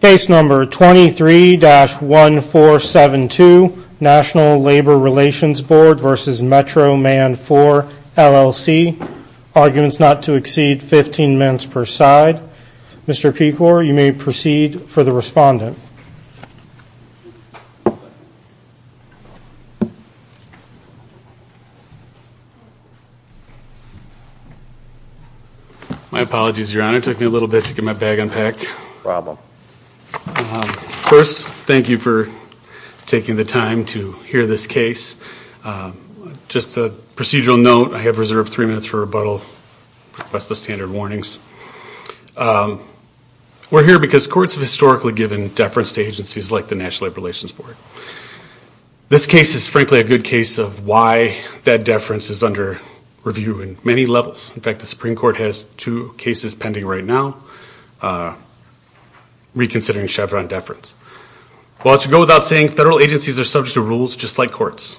Case number 23-1472, National Labor Relations Board v. Metro Man IV LLC Arguments not to exceed 15 minutes per side. Mr. Pecor, you may proceed for the respondent. My apologies, your honor. It took me a little bit to get my bag unpacked. First, thank you for taking the time to hear this case. Just a procedural note, I have reserved three minutes for rebuttal. Request the standard warnings. We're here because courts have historically given deference to agencies like the National Labor Relations Board. This case is frankly a good case of why that deference is under review in many levels. In fact, the Supreme Court has two cases pending right now reconsidering Chevron deference. Well, I should go without saying federal agencies are subject to rules just like courts.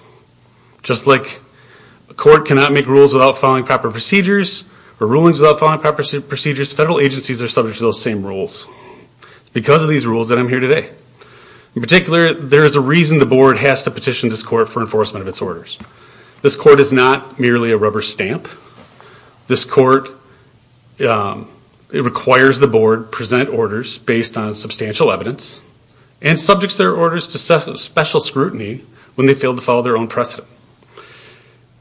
Just like a court cannot make rules without following proper procedures or rulings without following proper procedures, federal agencies are subject to those same rules. It's because of these rules that I'm here today. In particular, there is a reason the board has to petition this court for enforcement of its orders. This court is not merely a rubber stamp. This court requires the board present orders based on substantial evidence and subjects their orders to special scrutiny when they fail to follow their own precedent.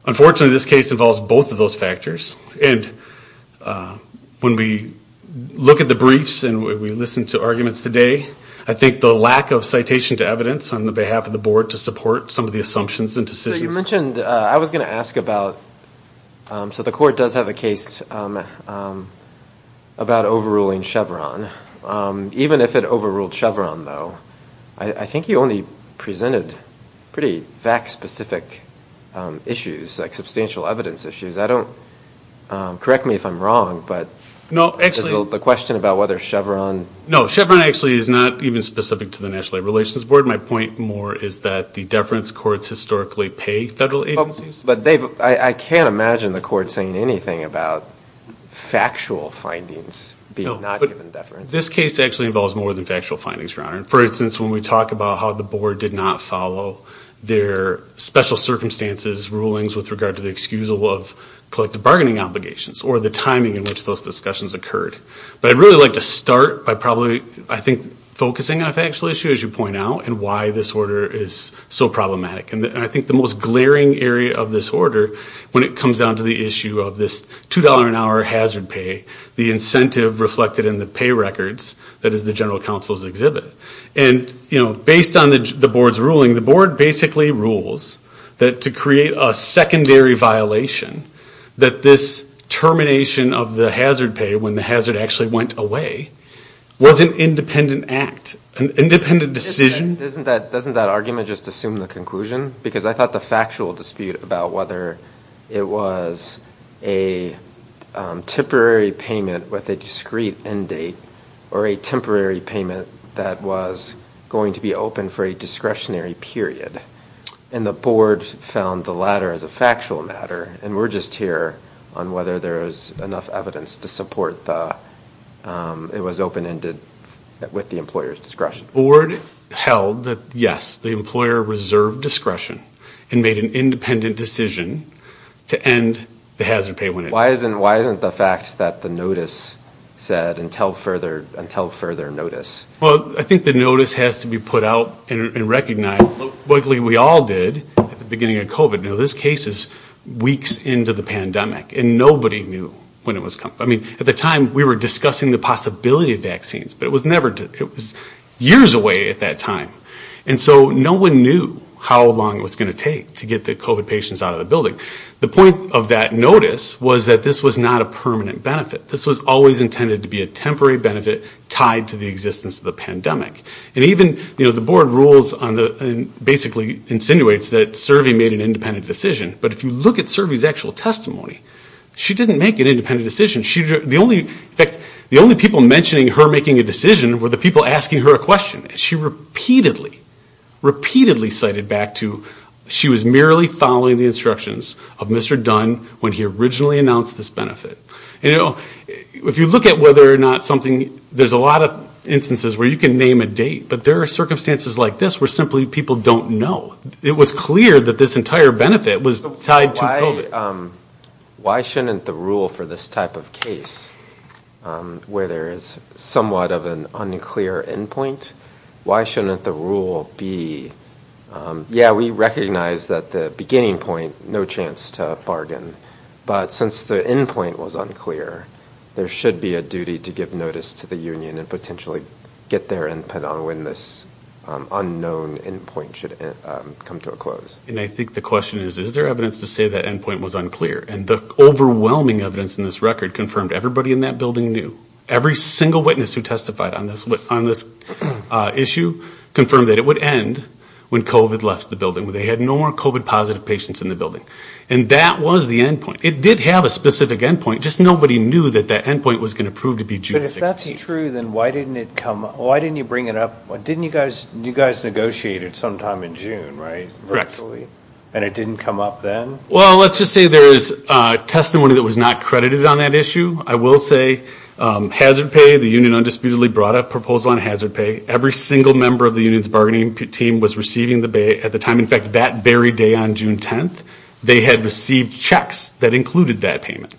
Unfortunately, this case involves both of those factors. When we look at the briefs and we listen to arguments today, I think the lack of citation to evidence on the behalf of the board to support some of the assumptions and decisions... You mentioned, I was going to ask about, so the court does have a case about overruling Chevron. Even if it overruled Chevron though, I think you only presented pretty fact-specific issues, like substantial evidence issues. Correct me if I'm wrong, but the question about whether Chevron... No, Chevron actually is not even specific to the National Labor Relations Board. My point more is that the deference courts historically pay federal agencies. I can't imagine the court saying anything about factual findings being not given deference. This case actually involves more than factual findings, Your Honor. For instance, when we talk about how the board did not follow their special circumstances rulings with regard to the excusal of collective bargaining obligations, or the timing in which those discussions occurred. I'd really like to start by probably, I think, focusing on a factual issue, as you point out, and why this order is so problematic. I think the most glaring area of this order, when it comes down to the issue of this $2 an hour hazard pay, the incentive reflected in the pay records that is the General Counsel's exhibit. And, you know, based on the board's ruling, the board basically rules that to create a secondary violation, that this termination of the hazard pay, when the hazard actually went away, was an independent act, an independent decision. Doesn't that argument just assume the conclusion? Because I thought the factual dispute about whether it was a temporary payment with a discrete end date, or a temporary payment that was going to be open for a discretionary period. And the board found the latter as a factual matter, and we're just here on whether there's enough evidence to support that it was open-ended with the employer's discretion. The board held that, yes, the employer reserved discretion and made an independent decision to end the hazard pay. Why isn't the fact that the notice said, until further notice? Well, I think the notice has to be put out and recognized. Luckily, we all did at the beginning of COVID. Now, this case is weeks into the pandemic, and nobody knew when it was coming. I mean, at the time, we were discussing the possibility of vaccines, but it was never, it was years away at that time. And so no one knew how long it was going to take to get the COVID patients out of the building. The point of that notice was that this was not a permanent benefit. This was always intended to be a temporary benefit tied to the existence of the pandemic. And even, you know, the board rules on the, basically insinuates that Servi made an independent decision, but if you look at Servi's actual testimony, she didn't make an independent decision. She, the only, in fact, the only people mentioning her making a decision were the people asking her a question. She repeatedly, repeatedly cited back to, she was merely following the instructions of Mr. Dunn when he originally announced this benefit. You know, if you look at whether or not something, there's a lot of instances where you can name a date, but there are circumstances like this where simply people don't know. It was clear that this entire benefit was tied to COVID. Why shouldn't the rule for this type of case, where there is somewhat of an unclear endpoint, why shouldn't the rule be, yeah, we recognize that the beginning point, no chance to bargain, but since the endpoint was unclear, there should be a duty to give notice to the union and potentially get their input on when this unknown endpoint should come to a close. And I think the question is, is there evidence to say that endpoint was unclear? And the overwhelming evidence in this record confirmed everybody in that building knew. Every single witness who testified on this issue confirmed that it would end when COVID left the building. They had no more COVID positive patients in the building. And that was the endpoint. It did have a specific endpoint, just nobody knew that that endpoint was going to prove to be June 16th. But if that's true, then why didn't it come, why didn't you bring it up? Didn't you guys, you guys negotiated sometime in June, right? Correct. And it didn't come up then? Well, let's just say there is testimony that was not credited on that issue. I will say hazard pay, the union undisputedly brought a proposal on hazard pay. Every single member of the union's bargaining team was receiving the pay at the time. In fact, that very day on June 10th, they had received checks that included that payment.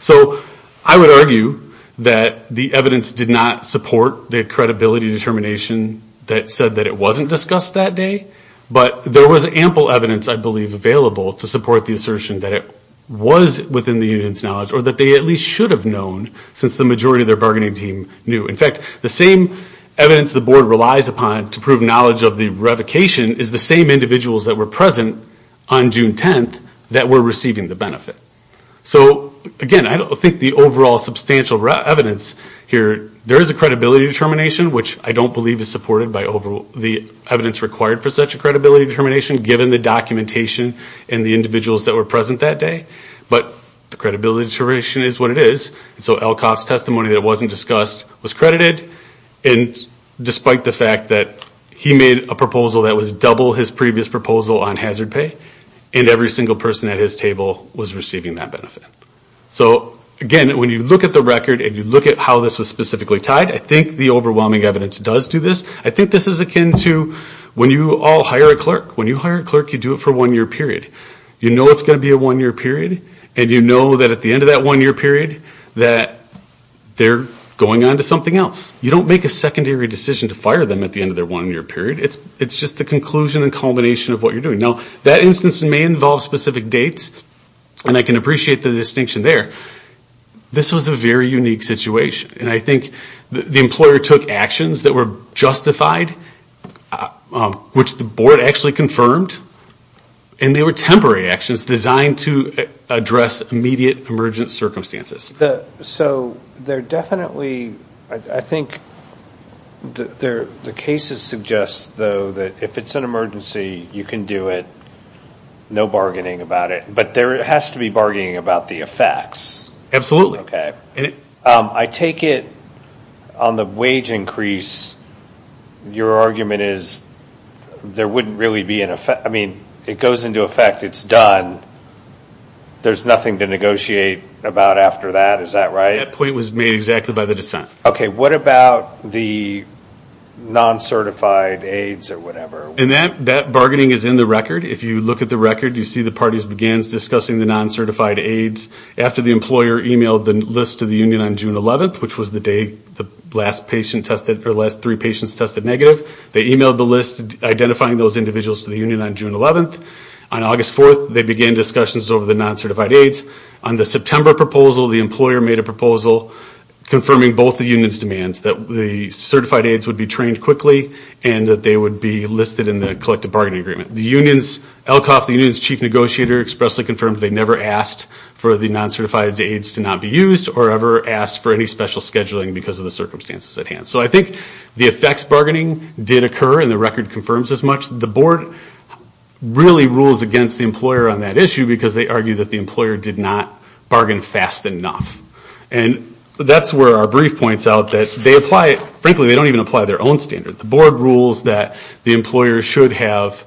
So I would argue that the evidence did not support the credibility determination that said that it wasn't discussed that day. But there was ample evidence, I believe, available to support the assertion that it was within the union's knowledge or that they at least should have known since the majority of bargaining team knew. In fact, the same evidence the board relies upon to prove knowledge of the revocation is the same individuals that were present on June 10th that were receiving the benefit. So again, I don't think the overall substantial evidence here, there is a credibility determination which I don't believe is supported by the evidence required for such a credibility determination given the documentation and the individuals that were present that day. But the credibility determination is what it is. So Elkoff's testimony that wasn't discussed was credited, and despite the fact that he made a proposal that was double his previous proposal on hazard pay, and every single person at his table was receiving that benefit. So again, when you look at the record and you look at how this was specifically tied, I think the overwhelming evidence does do this. I think this is akin to when you all hire a clerk. When you hire a clerk, you do it for one year period. You know it's going to be a one-year period, and you know that at the end of that one-year period that they're going on to something else. You don't make a secondary decision to fire them at the end of their one-year period. It's just the conclusion and culmination of what you're doing. Now that instance may involve specific dates, and I can appreciate the distinction there. This was a very unique situation, and I think the employer took actions that were justified, which the board actually confirmed, and they were temporary actions designed to address immediate emergent circumstances. So they're definitely, I think, the cases suggest though that if it's an emergency, you can do it. No bargaining about it, but there has to be bargaining about the effects. Absolutely. Okay. I take it on the wage increase, your argument is there wouldn't really be an effect. I mean it goes into effect, it's done, there's nothing to negotiate about after that, is that right? That point was made exactly by the dissent. Okay, what about the non-certified aides or whatever? And that bargaining is in the record. If you look at the record, you see the parties began discussing the non-certified aides after the employer emailed the list to the union on June 11th, which was the day the last patient tested, or the last three patients tested negative. They emailed the list identifying those individuals to the union on June 11th. On August 4th, they began discussions over the non-certified aides. On the September proposal, the employer made a proposal confirming both the union's demands, that the certified aides would be trained quickly and that they would be listed in the collective bargaining agreement. The union's, ELCOF, the union's chief negotiator expressly confirmed they never asked for the non-certified aides to not be used or ever asked for any special scheduling because of the circumstances at hand. So I think the effects bargaining did occur and the record confirms as much. The board really rules against the employer on that issue because they argue that the employer did not bargain fast enough. And that's where our brief points out that they apply it, frankly they don't even apply their own standard. The board rules that the employer should have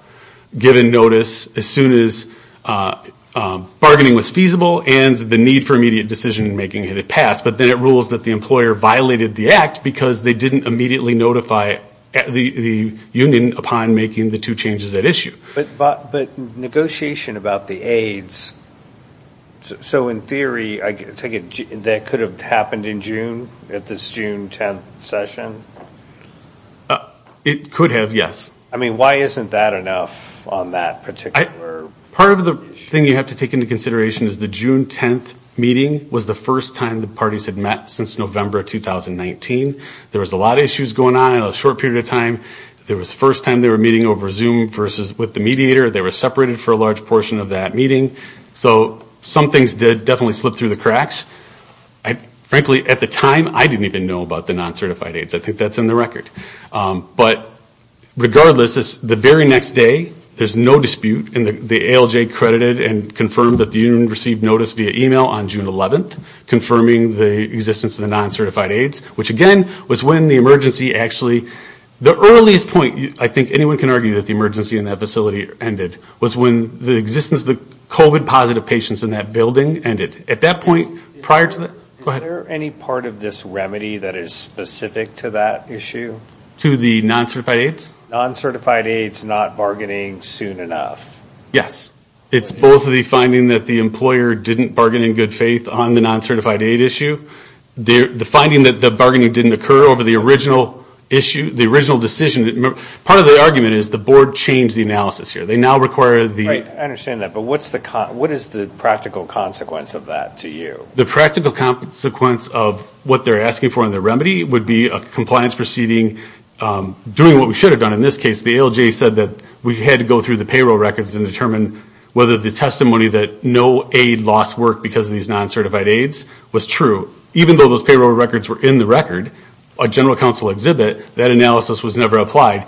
given notice as soon as bargaining was feasible and the need for immediate decision-making had passed, but then it rules that the employer violated the act because they didn't immediately notify the union upon making the two changes at issue. But negotiation about the aides, so in theory I take it that could have happened in June at this June 10th session? It could have, yes. I mean why isn't that enough on that particular? Part of the thing you have to take into consideration is the June 10th meeting was the first time the parties had met since November 2019. There was a lot of issues going on in a short period of time. There was first time they were meeting over Zoom versus with the mediator. They were separated for a large portion of that meeting. So some things did definitely slip through the cracks. I frankly at the time I didn't even know about the non-certified aides. I think that's in the record. But regardless the very next day there's no dispute and the ALJ credited and confirmed that the received notice via email on June 11th confirming the existence of the non-certified aides. Which again was when the emergency actually, the earliest point I think anyone can argue that the emergency in that facility ended, was when the existence of the COVID positive patients in that building ended. At that point prior to that, go ahead. Is there any part of this remedy that is specific to that issue? To the non-certified aides? Non-certified aides not bargaining soon enough? Yes. It's both the finding that the employer didn't bargain in good faith on the non-certified aid issue. The finding that the bargaining didn't occur over the original issue, the original decision. Part of the argument is the board changed the analysis here. They now require the... I understand that. But what's the practical consequence of that to you? The practical consequence of what they're asking for in the remedy would be a compliance proceeding doing what we should have done in this case. The ALJ said that we had to go through the payroll records and determine whether the testimony that no aid loss worked because of these non-certified aides was true. Even though those payroll records were in the record, a general counsel exhibit, that analysis was never applied.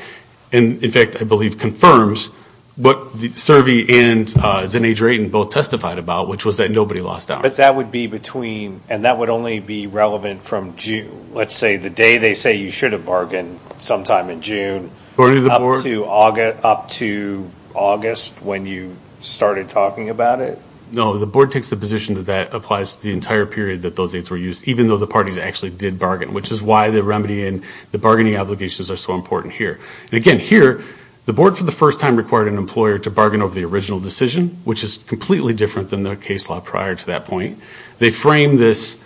And in fact I believe confirms what the Cervi and Zinnei Drayton both testified about, which was that nobody lost out. But that would be between, and that would only be relevant from June. Let's say the day they say you should have bargained, sometime in June, up to August when you started talking about it? No, the board takes the position that that applies to the entire period that those aides were used, even though the parties actually did bargain, which is why the remedy and the bargaining obligations are so important here. And again, here, the board for the first time required an employer to bargain over the original decision, which is completely different than the case law prior to that point. They frame this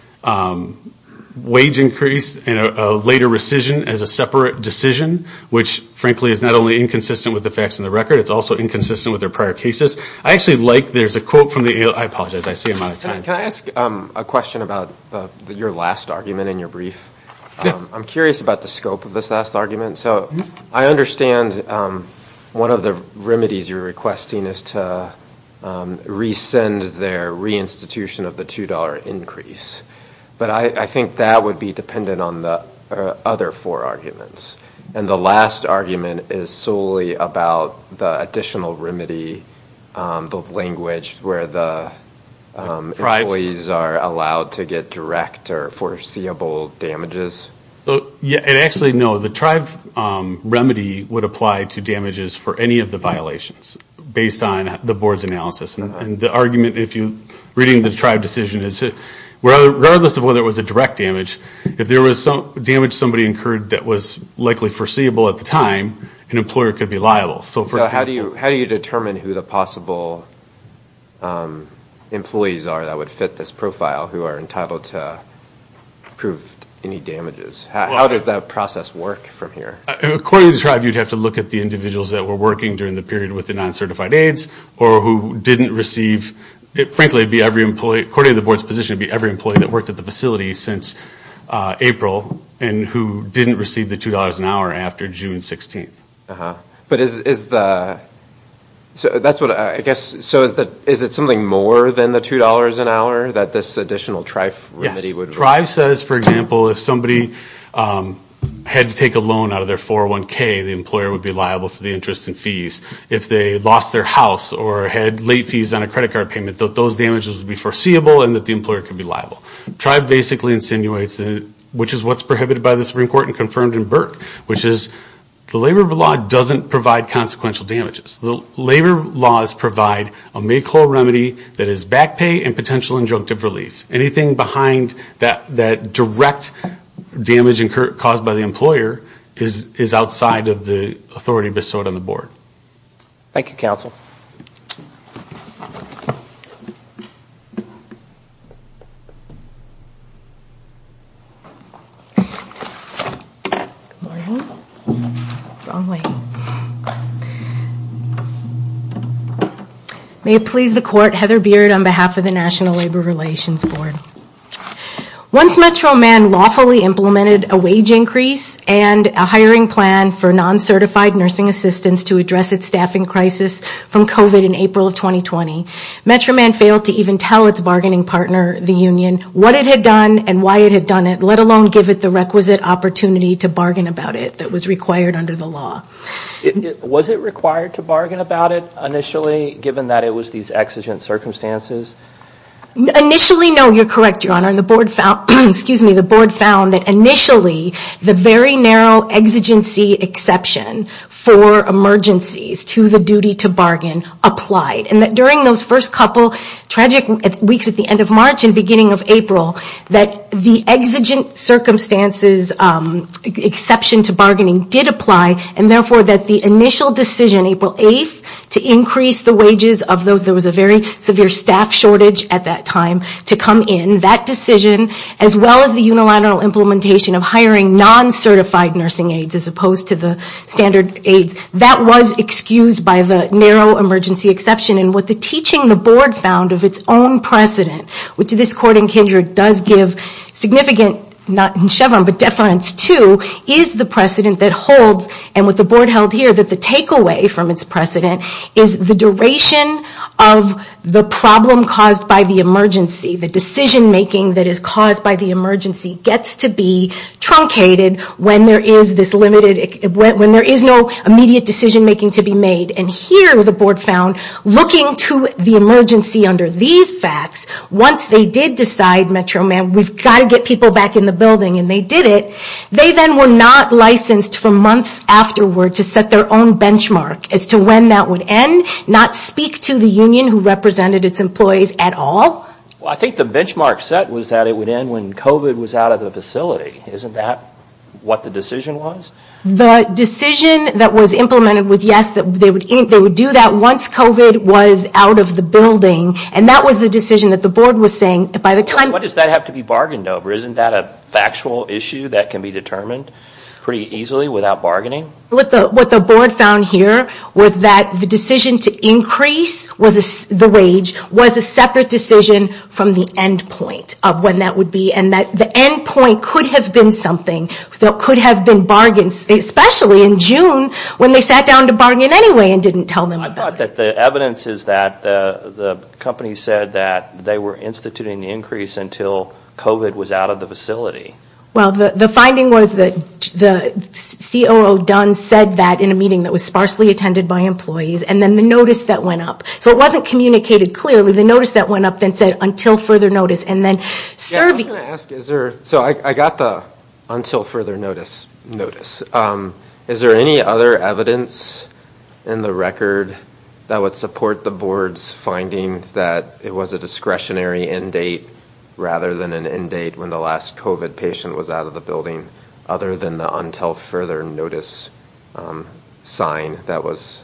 wage increase and a later rescission as a separate decision, which frankly is not only inconsistent with the facts in the record, it's also inconsistent with their prior cases. I actually like, there's a quote from the ALJ, I apologize, I say it a lot of times. Can I ask a question about your last argument in your brief? I'm curious about the scope of this last argument. So I understand one of the remedies you're requesting is to re-send their re-institution of the $2 increase, but I think that would be dependent on the other four arguments. And the last argument is solely about the additional remedy, the language, where the employees are allowed to get direct or foreseeable damages? So yeah, and actually, no, the tribe remedy would apply to damages for any of the organizations, based on the board's analysis. And the argument, if you're reading the tribe decision, is that regardless of whether it was a direct damage, if there was damage somebody incurred that was likely foreseeable at the time, an employer could be liable. So how do you determine who the possible employees are that would fit this profile, who are entitled to prove any damages? How does that process work from here? According to the tribe, you'd have to look at the individuals that were working during the period with the non-certified aides, or who didn't receive, frankly, it'd be every employee, according to the board's position, it'd be every employee that worked at the facility since April, and who didn't receive the $2 an hour after June 16th. But is the, so that's what I guess, so is that, is it something more than the $2 an hour that this additional tribe remedy would? Yes, tribe says, for example, if somebody had to take a loan out of their 401k, the employer would be liable for the interest and fees. If they lost their house or had late fees on a credit card payment, that those damages would be foreseeable and that the employer could be liable. Tribe basically insinuates, which is what's prohibited by the Supreme Court and confirmed in Burke, which is the labor of the law doesn't provide consequential damages. The labor laws provide a make-all remedy that is back pay and potential injunctive relief. Anything behind that direct damage incurred, caused by the employer, is outside of the authority bestowed on the board. Thank you, counsel. May it please the court, Heather Beard on behalf of the National Labor Relations Board. Once Metro Man lawfully implemented a wage increase and a hiring plan for non-certified nursing assistants to address its staffing crisis from COVID in April of 2020, Metro Man failed to even tell its bargaining partner, the union, what it had done and why it had done it, let alone give it the requisite opportunity to bargain about it that was required under the law. Was it required to bargain about it initially, given that it was these exigent circumstances? Initially, no, you're correct, your honor. And the board found, excuse me, the board found that initially the very narrow exigency exception for emergencies to the duty to bargain applied. And that during those first couple tragic weeks at the end of March and beginning of April, that the exigent circumstances exception to bargaining did apply and therefore that the initial decision April 8th to increase the wages of those, there was a very severe staff shortage at that time, to come in, that decision as well as the unilateral implementation of hiring non-certified nursing aides as opposed to the standard aides, that was excused by the narrow emergency exception. And what the teaching the board found of its own precedent, which this court in Kindred does give significant, not in Chevron, but deference to, is the precedent that holds, and what the board held here, that the takeaway from its precedent is the duration of the problem caused by the emergency, the decision making that is caused by the emergency, gets to be truncated when there is this limited, when there is no immediate decision making to be made. And here the board found, looking to the emergency under these facts, once they did decide, Metro Man, we've got to get people back in the building, and they did it, they then were not licensed for months afterward to set their own benchmark as to when that would end, not speak to the union who represented its employees at all. Well I think the benchmark set was that it would end when COVID was out of the facility, isn't that what the decision was? The decision that was implemented was yes, that they would do that once COVID was out of the building, and that was the decision that the board was saying by the time... What does that have to be bargained over? Isn't that a factual issue that can be determined pretty easily without bargaining? What the board found here was that the decision to increase the wage was a separate decision from the end point of when that would be, and that the end point could have been something, there could have been bargains, especially in June when they sat down to bargain anyway and didn't tell them. I thought that the evidence is that the company said that they were instituting the increase until COVID was out of the facility. Well the finding was that the COO Dunn said that in a meeting that was sparsely attended by employees, and then the notice that went up. So it wasn't communicated clearly, the notice that went up then said until further notice, and then serving... So I got the until further notice notice, is there any other evidence in the record that would support the board's finding that it was a discretionary end date rather than an end date when the last COVID patient was out of the building, other than the until further notice sign that was...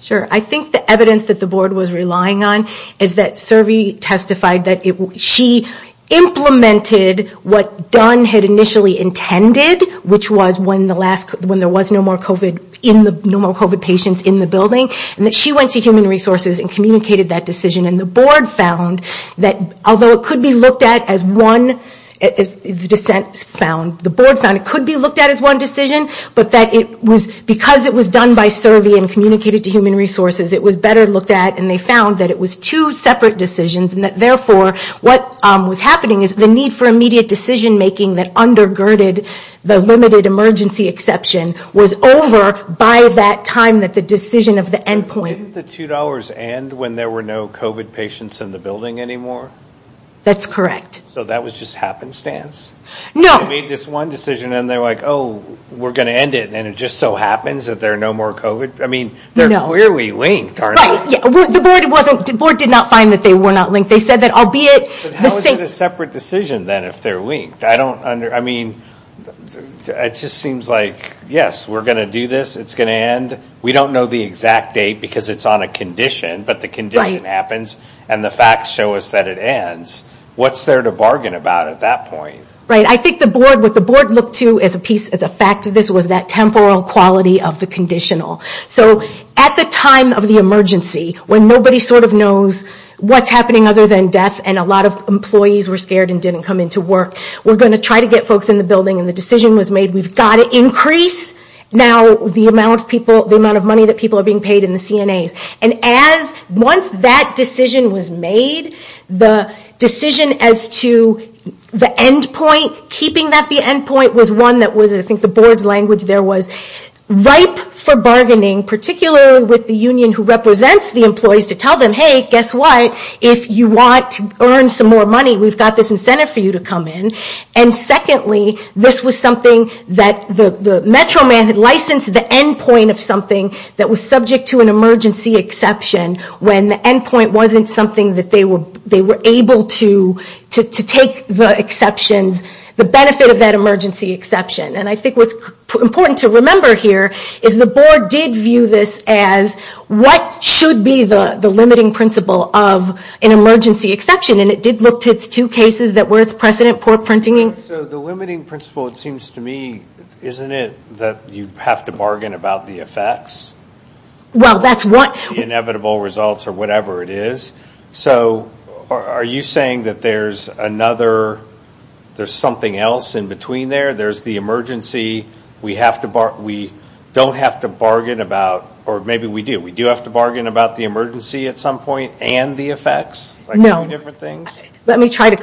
Sure, I think the evidence that the board was relying on is that Servi testified that she implemented what Dunn had initially intended, which was when the last... When there was no more COVID patients in the building, and that she went to Human Resources and communicated that decision, and the board found that although it could be looked at as one, as the dissent found, the board found it could be looked at as one decision, but that it was because it was done by Servi and communicated to Human Resources, it was better looked at and they found that it was two separate decisions, and that therefore what was happening is the need for immediate decision-making that undergirded the limited emergency exception was over by that time that the decision of the $2 and when there were no COVID patients in the building anymore? That's correct. So that was just happenstance? No. They made this one decision and they're like, oh we're gonna end it, and it just so happens that there are no more COVID? I mean they're clearly linked, aren't they? The board did not find that they were not linked, they said that albeit... But how is it a separate decision then if they're linked? I don't under... I mean it just seems like, yes, we're gonna do this, it's gonna end, we don't know the exact date because it's on a condition, but the condition happens and the facts show us that it ends. What's there to bargain about at that point? Right, I think the board, what the board looked to as a piece, as a fact of this, was that temporal quality of the conditional. So at the time of the emergency, when nobody sort of knows what's happening other than death and a lot of employees were scared and didn't come into work, we're gonna try to get folks in the building and the decision was made, we've got to increase now the amount of people, the amount of money that people are being paid in the CNAs. And as, once that decision was made, the decision as to the end point, keeping that the end point, was one that was, I think the board's language there was, ripe for bargaining, particularly with the union who represents the employees, to tell them, hey, guess what, if you want to earn some more money, we've got this incentive for you to come in. And secondly, this was something that the Metro Man had licensed the end point of something that was subject to an emergency exception, when the end point wasn't something that they were, they were able to, to take the exceptions, the benefit of that emergency exception. And I think what's important to remember here, is the board did view this as, what should be the limiting principle of an emergency exception? And it did look to its two cases that were its precedent, poor printing. So the limiting principle, it seems to me, isn't it that you have to bargain about the effects? Well, that's what. The inevitable results, or whatever it is. So, are you saying that there's another, there's something else in between there? There's the emergency, we have to bar, we don't have to bargain about, or maybe we do, we do have to bargain about the emergency at some point, and the effects? No, let me try to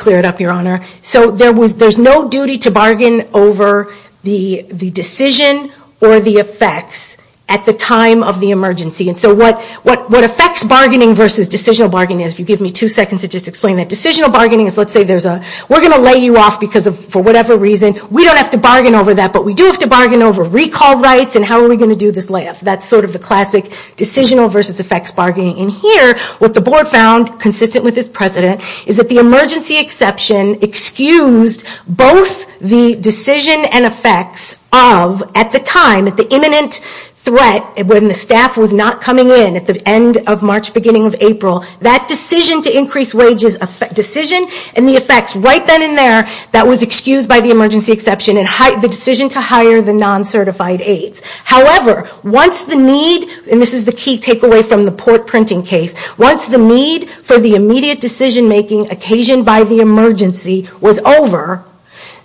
bargain over the decision, or the effects, at the time of the emergency. And so what, what, what effects bargaining versus decisional bargaining is, if you give me two seconds to just explain that. Decisional bargaining is, let's say there's a, we're going to lay you off because of, for whatever reason, we don't have to bargain over that, but we do have to bargain over recall rights, and how are we going to do this layoff? That's sort of the classic decisional versus effects bargaining. And here, what the board found, consistent with its precedent, is that the emergency exception excused both the decision and effects of, at the time, at the imminent threat, when the staff was not coming in at the end of March, beginning of April, that decision to increase wages decision, and the effects right then and there, that was excused by the emergency exception, and the decision to hire the non-certified aides. However, once the need, and this is the key takeaway from the port printing case, once the need for the immediate decision making occasioned by the emergency was over,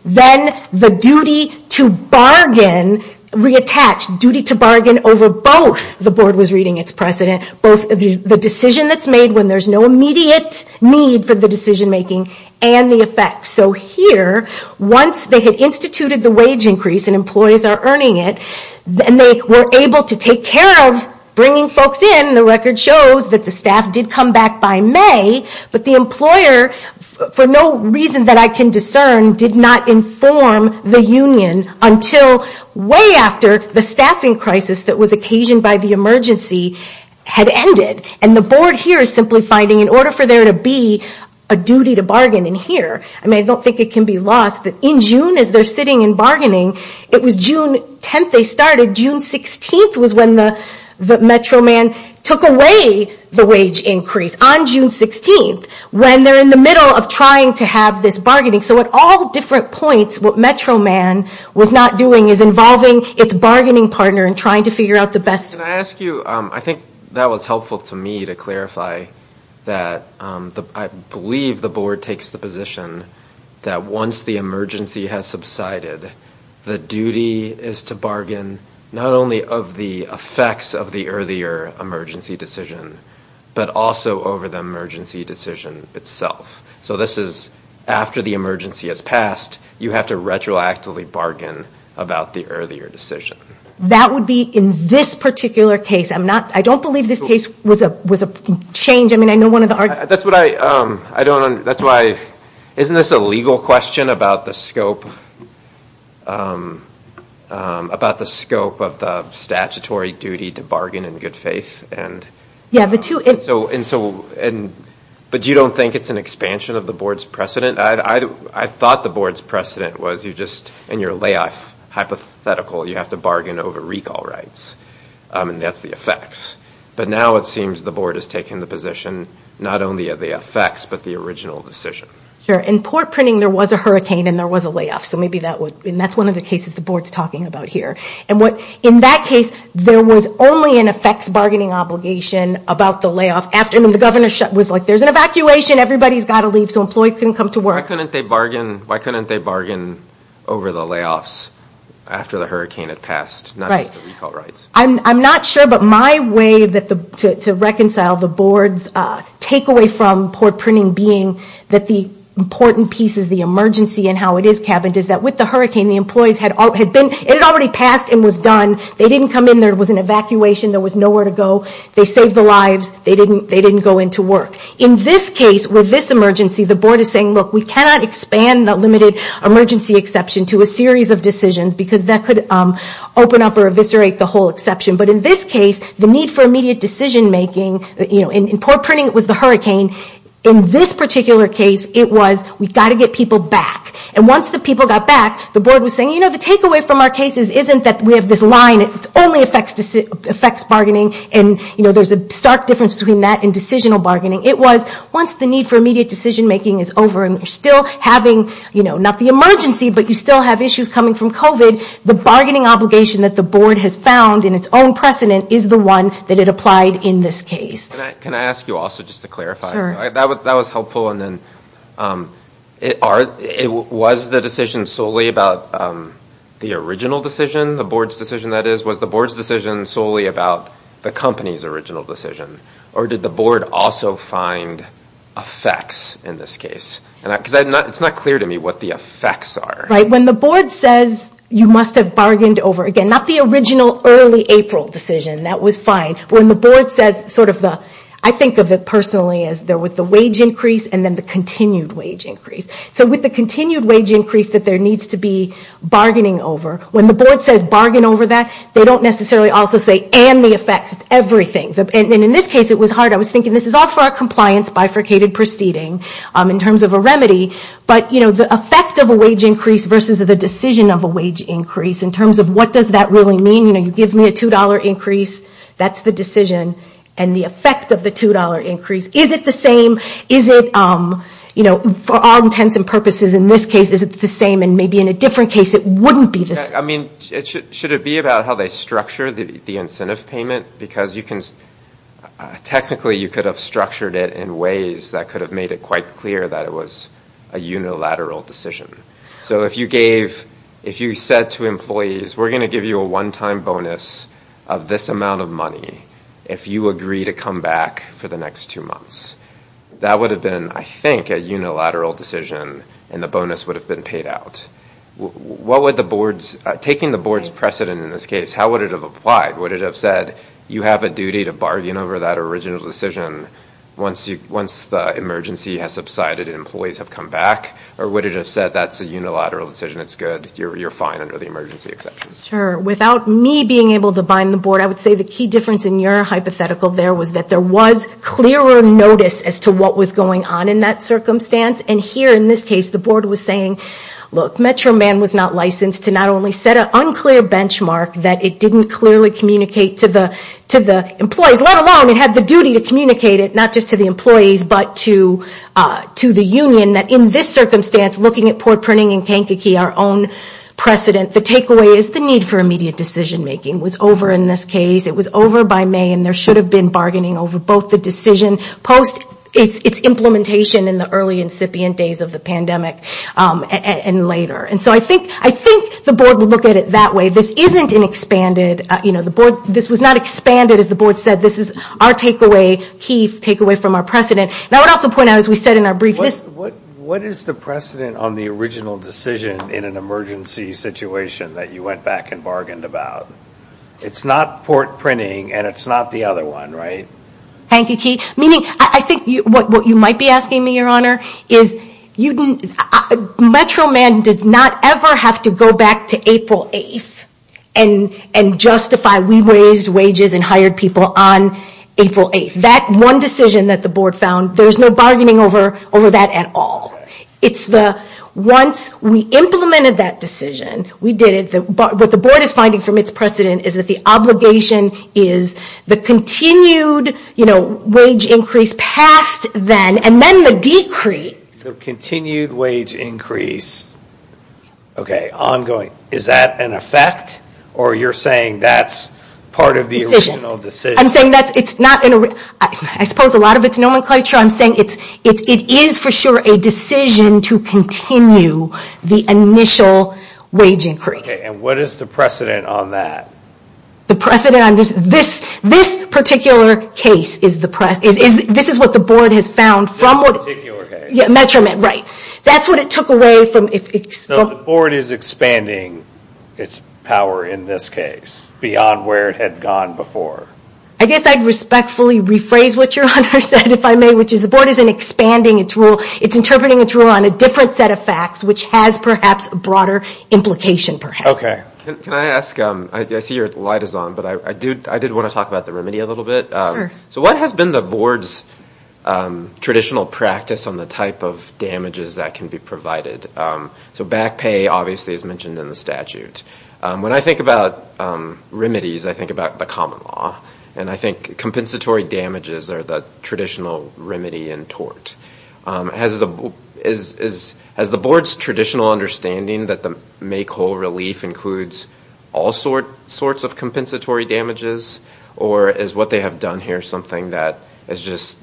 then the duty to bargain, reattached, duty to bargain over both, the board was reading its precedent, both the decision that's made when there's no immediate need for the decision making, and the effects. So here, once they had instituted the wage increase, and employees are earning it, and they were able to take care of bringing folks in, the record shows that the staff did come back by May, but the employer, for no reason that I can discern, did not inform the union until way after the staffing crisis that was occasioned by the emergency had ended. And the board here is simply finding, in order for there to be a duty to bargain in here, I mean, I don't think it can be lost that in June, as they're sitting and bargaining, it was June 10th they started, June 16th was when the Metro Man took away the wage increase, on June 16th, when they're in the middle of trying to have this bargaining. So at all different points, what Metro Man was not doing is involving its bargaining partner in trying to figure out the best... Can I ask you, I think that was helpful to me to clarify, that I believe the board takes the position that once the emergency has subsided, the duty is to bargain, not only of the effects of the earlier emergency decision, but also over the emergency decision itself. So this is, after the emergency has passed, you have to retroactively bargain about the earlier decision. That would be in this particular case, I'm not, I don't believe this case was a change, I mean, I know one of the... That's what I, I don't, that's why, isn't this a legal question about the scope, about the scope of the statutory duty to bargain in good faith? And... Yeah, the two... And so, and so, and but you don't think it's an expansion of the board's precedent? I thought the board's precedent was you just, in your layoff hypothetical, you have to bargain over recall rights, and that's the effects. But now it seems the board has taken the position, not only of the effects, but the original decision. Sure, in port printing, there was a hurricane, and there was a layoff, so maybe that would, and that's one of the cases the board's talking about here. And what, in that case, there was only an effects bargaining obligation about the layoff after, and the governor was like, there's an evacuation, everybody's got to leave, so employees couldn't come to work. Why couldn't they bargain, why couldn't they bargain over the layoffs after the hurricane had passed? Right, I'm not sure, but my way that the, to reconcile the board's takeaway from port printing being that the important pieces, the emergency and how it is cabined, is that with the hurricane, the employees had all, had been, it had already passed and was done, they didn't come in, there was an evacuation, there was nowhere to go, they saved the lives, they didn't, they didn't go into work. In this case, with this emergency, the board is saying, look, we cannot expand the limited emergency exception to a series of decisions, because that could open up or eviscerate the whole exception. But in this case, the need for immediate decision-making, you know, in port printing it was the hurricane, in this particular case, it was we've got to get people back. And once the people got back, the board was saying, you know, the takeaway from our cases isn't that we have this line, it only affects bargaining, and, you know, there's a stark difference between that and decisional bargaining. It was, once the need for immediate decision-making is over and you're still having, you know, not the emergency, but you still have issues coming from COVID, the bargaining obligation that the board has found in its own precedent is the one that it applied in this case. Can I ask you also, just to clarify, that was helpful, and then, it was the decision solely about the original decision, the board's decision, that is, was the board's decision solely about the company's original decision, or did the board also find effects in this case? Because it's not clear to me what the effects are. Right, when the board says you must have bargained over, again, not the original early April decision, that was fine, when the board says sort of the, I think of it personally as there was the wage increase and then the continued wage increase. So with the continued wage increase that there needs to be bargaining over, when the board says bargain over that, they don't necessarily also say, and the effects, everything. And in this case, it was hard. I was thinking this is all for our compliance bifurcated proceeding, in terms of a remedy, but, you know, the effect of a wage increase, in terms of what does that really mean, you know, you give me a $2 increase, that's the decision, and the effect of the $2 increase, is it the same, is it, you know, for all intents and purposes, in this case, is it the same, and maybe in a different case, it wouldn't be the same. I mean, should it be about how they structure the incentive payment? Because you can, technically, you could have structured it in ways that could have made it quite clear that it was a unilateral decision. So if you gave, if you said to employees, we're going to give you a one-time bonus of this amount of money, if you agree to come back for the next two months, that would have been, I think, a unilateral decision, and the bonus would have been paid out. What would the board's, taking the board's precedent in this case, how would it have applied? Would it have said, you have a duty to bargain over that original decision, once you, once the emergency has subsided and employees have come back, or would it have said, that's a unilateral decision, it's good, you're fine under the emergency exception? Sure, without me being able to bind the board, I would say the key difference in your hypothetical there was that there was clearer notice as to what was going on in that circumstance, and here, in this case, the board was saying, look, Metro Man was not licensed to not only set an unclear benchmark that it didn't clearly communicate to the, to the employees, let alone, it had the duty to communicate it, not just to the employees, but to, to the union, that in this circumstance, looking at Port Pruning and Kankakee, our own precedent, the takeaway is the need for immediate decision-making was over in this case, it was over by May, and there should have been bargaining over both the decision post its implementation in the early incipient days of the pandemic, and later, and so I think, I think the board will look at it that way. This isn't an expanded, you know, the board, this was not expanded, as the board said, this is our takeaway, key takeaway from our precedent, and I would also point out, as we said in our brief, this... What, what, what is the precedent on the original decision in an emergency situation that you went back and bargained about? It's not Port Pruning, and it's not the other one, right? Kankakee, meaning, I think you, what, what you might be asking me, your honor, is you didn't, Metro Man does not ever have to go back to April 8th and, and justify, we raised wages and hired people on April 8th. That one decision that the board found, there's no bargaining over, over that at all. It's the, once we implemented that decision, we did it, but what the board is finding from its precedent is that the obligation is the continued, you know, wage increase past then, and then the decrease. So continued wage increase, okay, ongoing, is that an effect, or you're saying that's part of the original decision? I'm saying that's, it's not an, I suppose a lot of it's nomenclature. I'm saying it's, it is for sure a decision to continue the initial wage increase. Okay, and what is the precedent on that? The precedent on this, this, this particular case is the precedent, is, is, this is what the board has found from what... This particular case. Yeah, Metro Man, right. That's what it took away from... No, the board is expanding its power in this case, beyond where it had gone before. I guess I'd respectfully rephrase what your honor said, if I may, which is the board isn't expanding its rule, it's interpreting its rule on a different set of facts, which has perhaps a broader implication, perhaps. Okay. Can I ask, I see your light is on, but I do, I did want to talk about the remedy a little bit. So what has been the board's traditional practice on the type of damages that can be provided? So back pay, obviously, is mentioned in the statute. When I think about remedies, I think about the common law, and I think compensatory damages are the traditional remedy and tort. Has the, is, is, has the board's traditional understanding that the make whole relief includes all sort, sorts of compensatory damages, or is what they have done here something that is just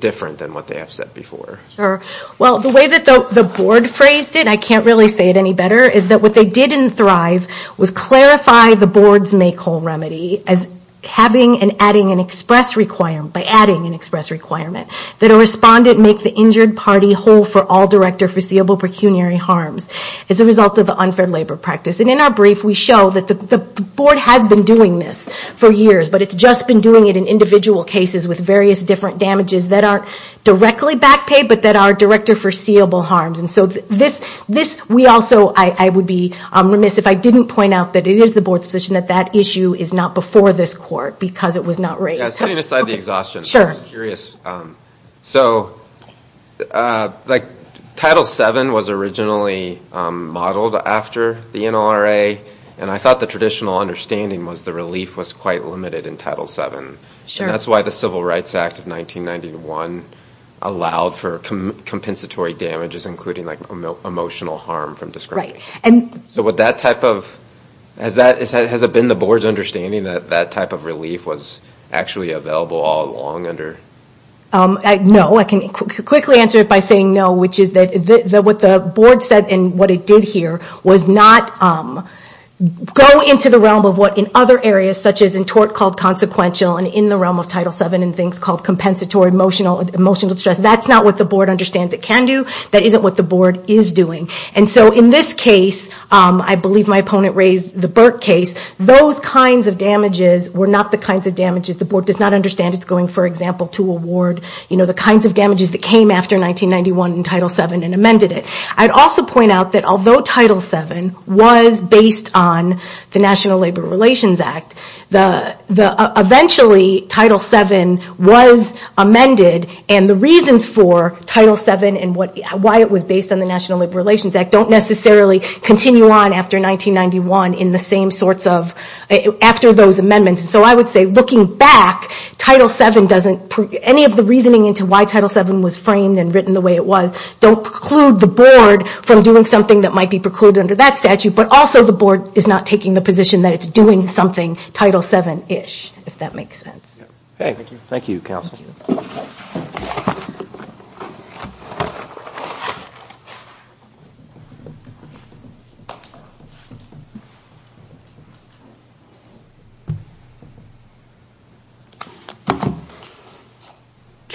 different than what they have said before? Sure. Well, the way that the board phrased it, I can't really say it any better, is that what they did in Thrive was clarify the board's make whole remedy as having and adding an express requirement, by adding an express requirement, that a respondent make the injured party whole for all direct or foreseeable pecuniary harms as a result of the unfair labor practice. And in our brief, we show that the board has been doing this for years, but it's just been doing it in individual cases with various different damages that aren't directly back pay, but that are direct or foreseeable harms. And so this, this, we also, I, I would be remiss if I didn't point out that it is the board's position that that issue is not before this court, because it was not raised. Yeah, setting aside the exhaustion. Sure. I'm just curious. So, like, Title VII was originally modeled after the NLRA, and I thought the traditional understanding was the relief was quite limited in Title VII. Sure. And that's why the Civil Rights Act of 1991 allowed for compensatory damages, including, like, emotional harm from discrimination. Right. And. So would that type of, has that, has it been the board's understanding that that type of relief was actually available all along under? No. I can quickly answer it by saying no, which is that, that what the board said and what it did here was not go into the realm of what in other areas, such as in tort called consequential and in the realm of Title VII and things called compensatory emotional, emotional stress. That's not what the board understands it can do. That isn't what the board is doing. And so in this case, I believe my opponent raised the Burke case, those kinds of damages were not the kinds of damages the board does not understand. It's going, for example, to award, you know, the kinds of damages that came after 1991 in Title VII and amended it. I'd also point out that although Title VII was based on the National Labor Relations Act, the, the, eventually Title VII was amended and the reasons for Title VII and what, why it was based on the National Labor Relations Act don't necessarily continue on after 1991 in the same sorts of, after those amendments. So I would say looking back, Title VII doesn't, any of the reasoning into why Title VII was framed and written the way it was, don't preclude the board from doing something that might be precluded under that statute, but also the board is not taking the position that it's doing something Title VII-ish, if that makes sense.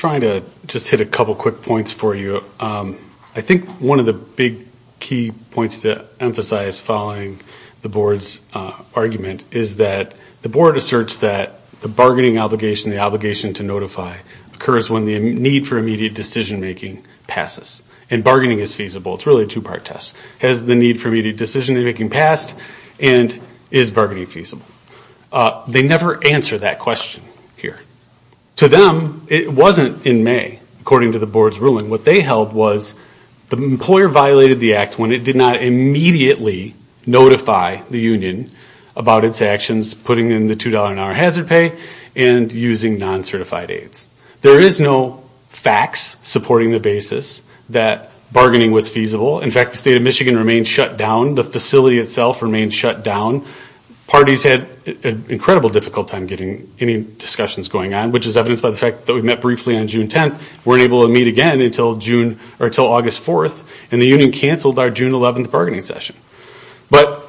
Let's hit a couple quick points for you. I think one of the big key points to emphasize following the board's argument is that the board asserts that the bargaining obligation, the obligation to notify, occurs when the need for immediate decision-making passes. And bargaining is feasible. It's really a two-part test. Has the need for immediate decision-making passed and is bargaining feasible? They never answer that question here. To them, it wasn't in their name. According to the board's ruling, what they held was the employer violated the act when it did not immediately notify the union about its actions, putting in the $2 an hour hazard pay and using non-certified aids. There is no facts supporting the basis that bargaining was feasible. In fact, the state of Michigan remained shut down. The facility itself remained shut down. Parties had an incredible difficult time getting any discussions going on, which is evidenced by the fact that we met briefly on June 10th, weren't able to meet again until August 4th, and the union canceled our June 11th bargaining session. But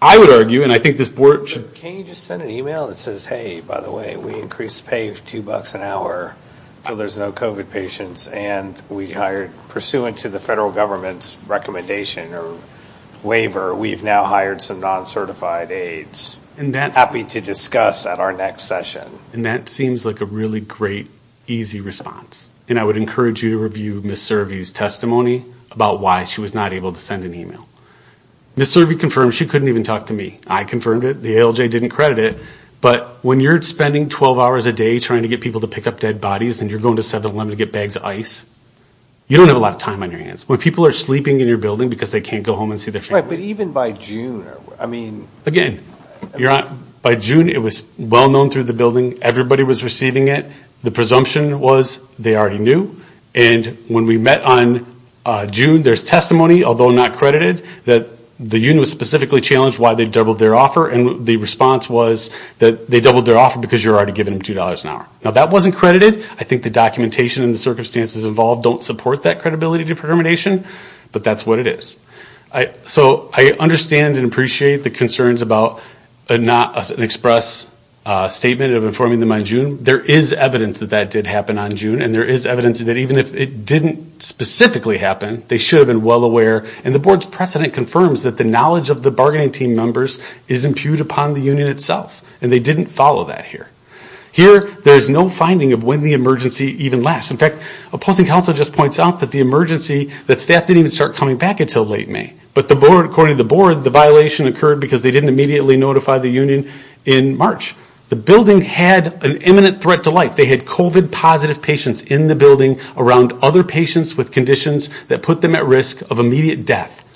I would argue, and I think this board should... Can you just send an email that says, hey, by the way, we increased the pay of $2 an hour so there's no COVID patients, and we hired, pursuant to the federal government's recommendation or waiver, we've now hired some non-certified aids. And that's... Happy to discuss at our next session. And that seems like a really great, easy response. And I would encourage you to review Ms. Servi's testimony about why she was not able to send an email. Ms. Servi confirmed she couldn't even talk to me. I confirmed it. The ALJ didn't credit it. But when you're spending 12 hours a day trying to get people to pick up dead bodies, and you're going to 7-Eleven to get bags of ice, you don't have a lot of time on your hands. When people are sleeping in your building because they can't go home and see their families... By June, it was well known through the building. Everybody was receiving it. The presumption was they already knew. And when we met on June, there's testimony, although not credited, that the union was specifically challenged why they doubled their offer. And the response was that they doubled their offer because you're already giving them $2 an hour. Now, that wasn't credited. I think the documentation and the circumstances involved don't support that credibility determination, but that's what it is. So I understand and appreciate the concerns about not an express statement of informing them on June. There is evidence that that did happen on June, and there is evidence that even if it didn't specifically happen, they should have been well aware. And the board's precedent confirms that the knowledge of the bargaining team members is impugned upon the union itself. And they didn't follow that here. Here, there's no finding of when the emergency even lasts. In fact, opposing counsel just points out that the emergency, that staff didn't even start coming back until late May. But according to the board, the violation occurred because they didn't immediately notify the union in March. The building had an imminent threat to life. They had COVID positive patients in the building around other patients with conditions that put them at risk of immediate death.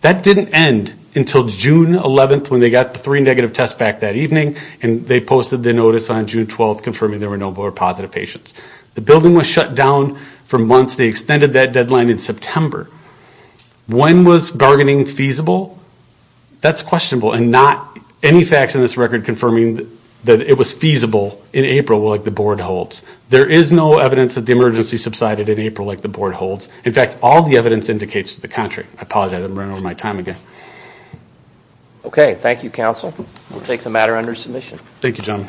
That didn't end until June 11th when they got the three negative tests back that evening, and they posted the notice on June 12th confirming there were no more positive patients. The building was shut down for months. They extended that deadline in September. When was bargaining feasible? That's questionable, and not any facts in this record confirming that it was feasible in April like the board holds. There is no evidence that the emergency subsided in April like the board holds. In fact, all the evidence indicates to the contrary. I apologize, I'm running over my time again. Okay, thank you counsel. We'll take the matter under submission. Thank you, John.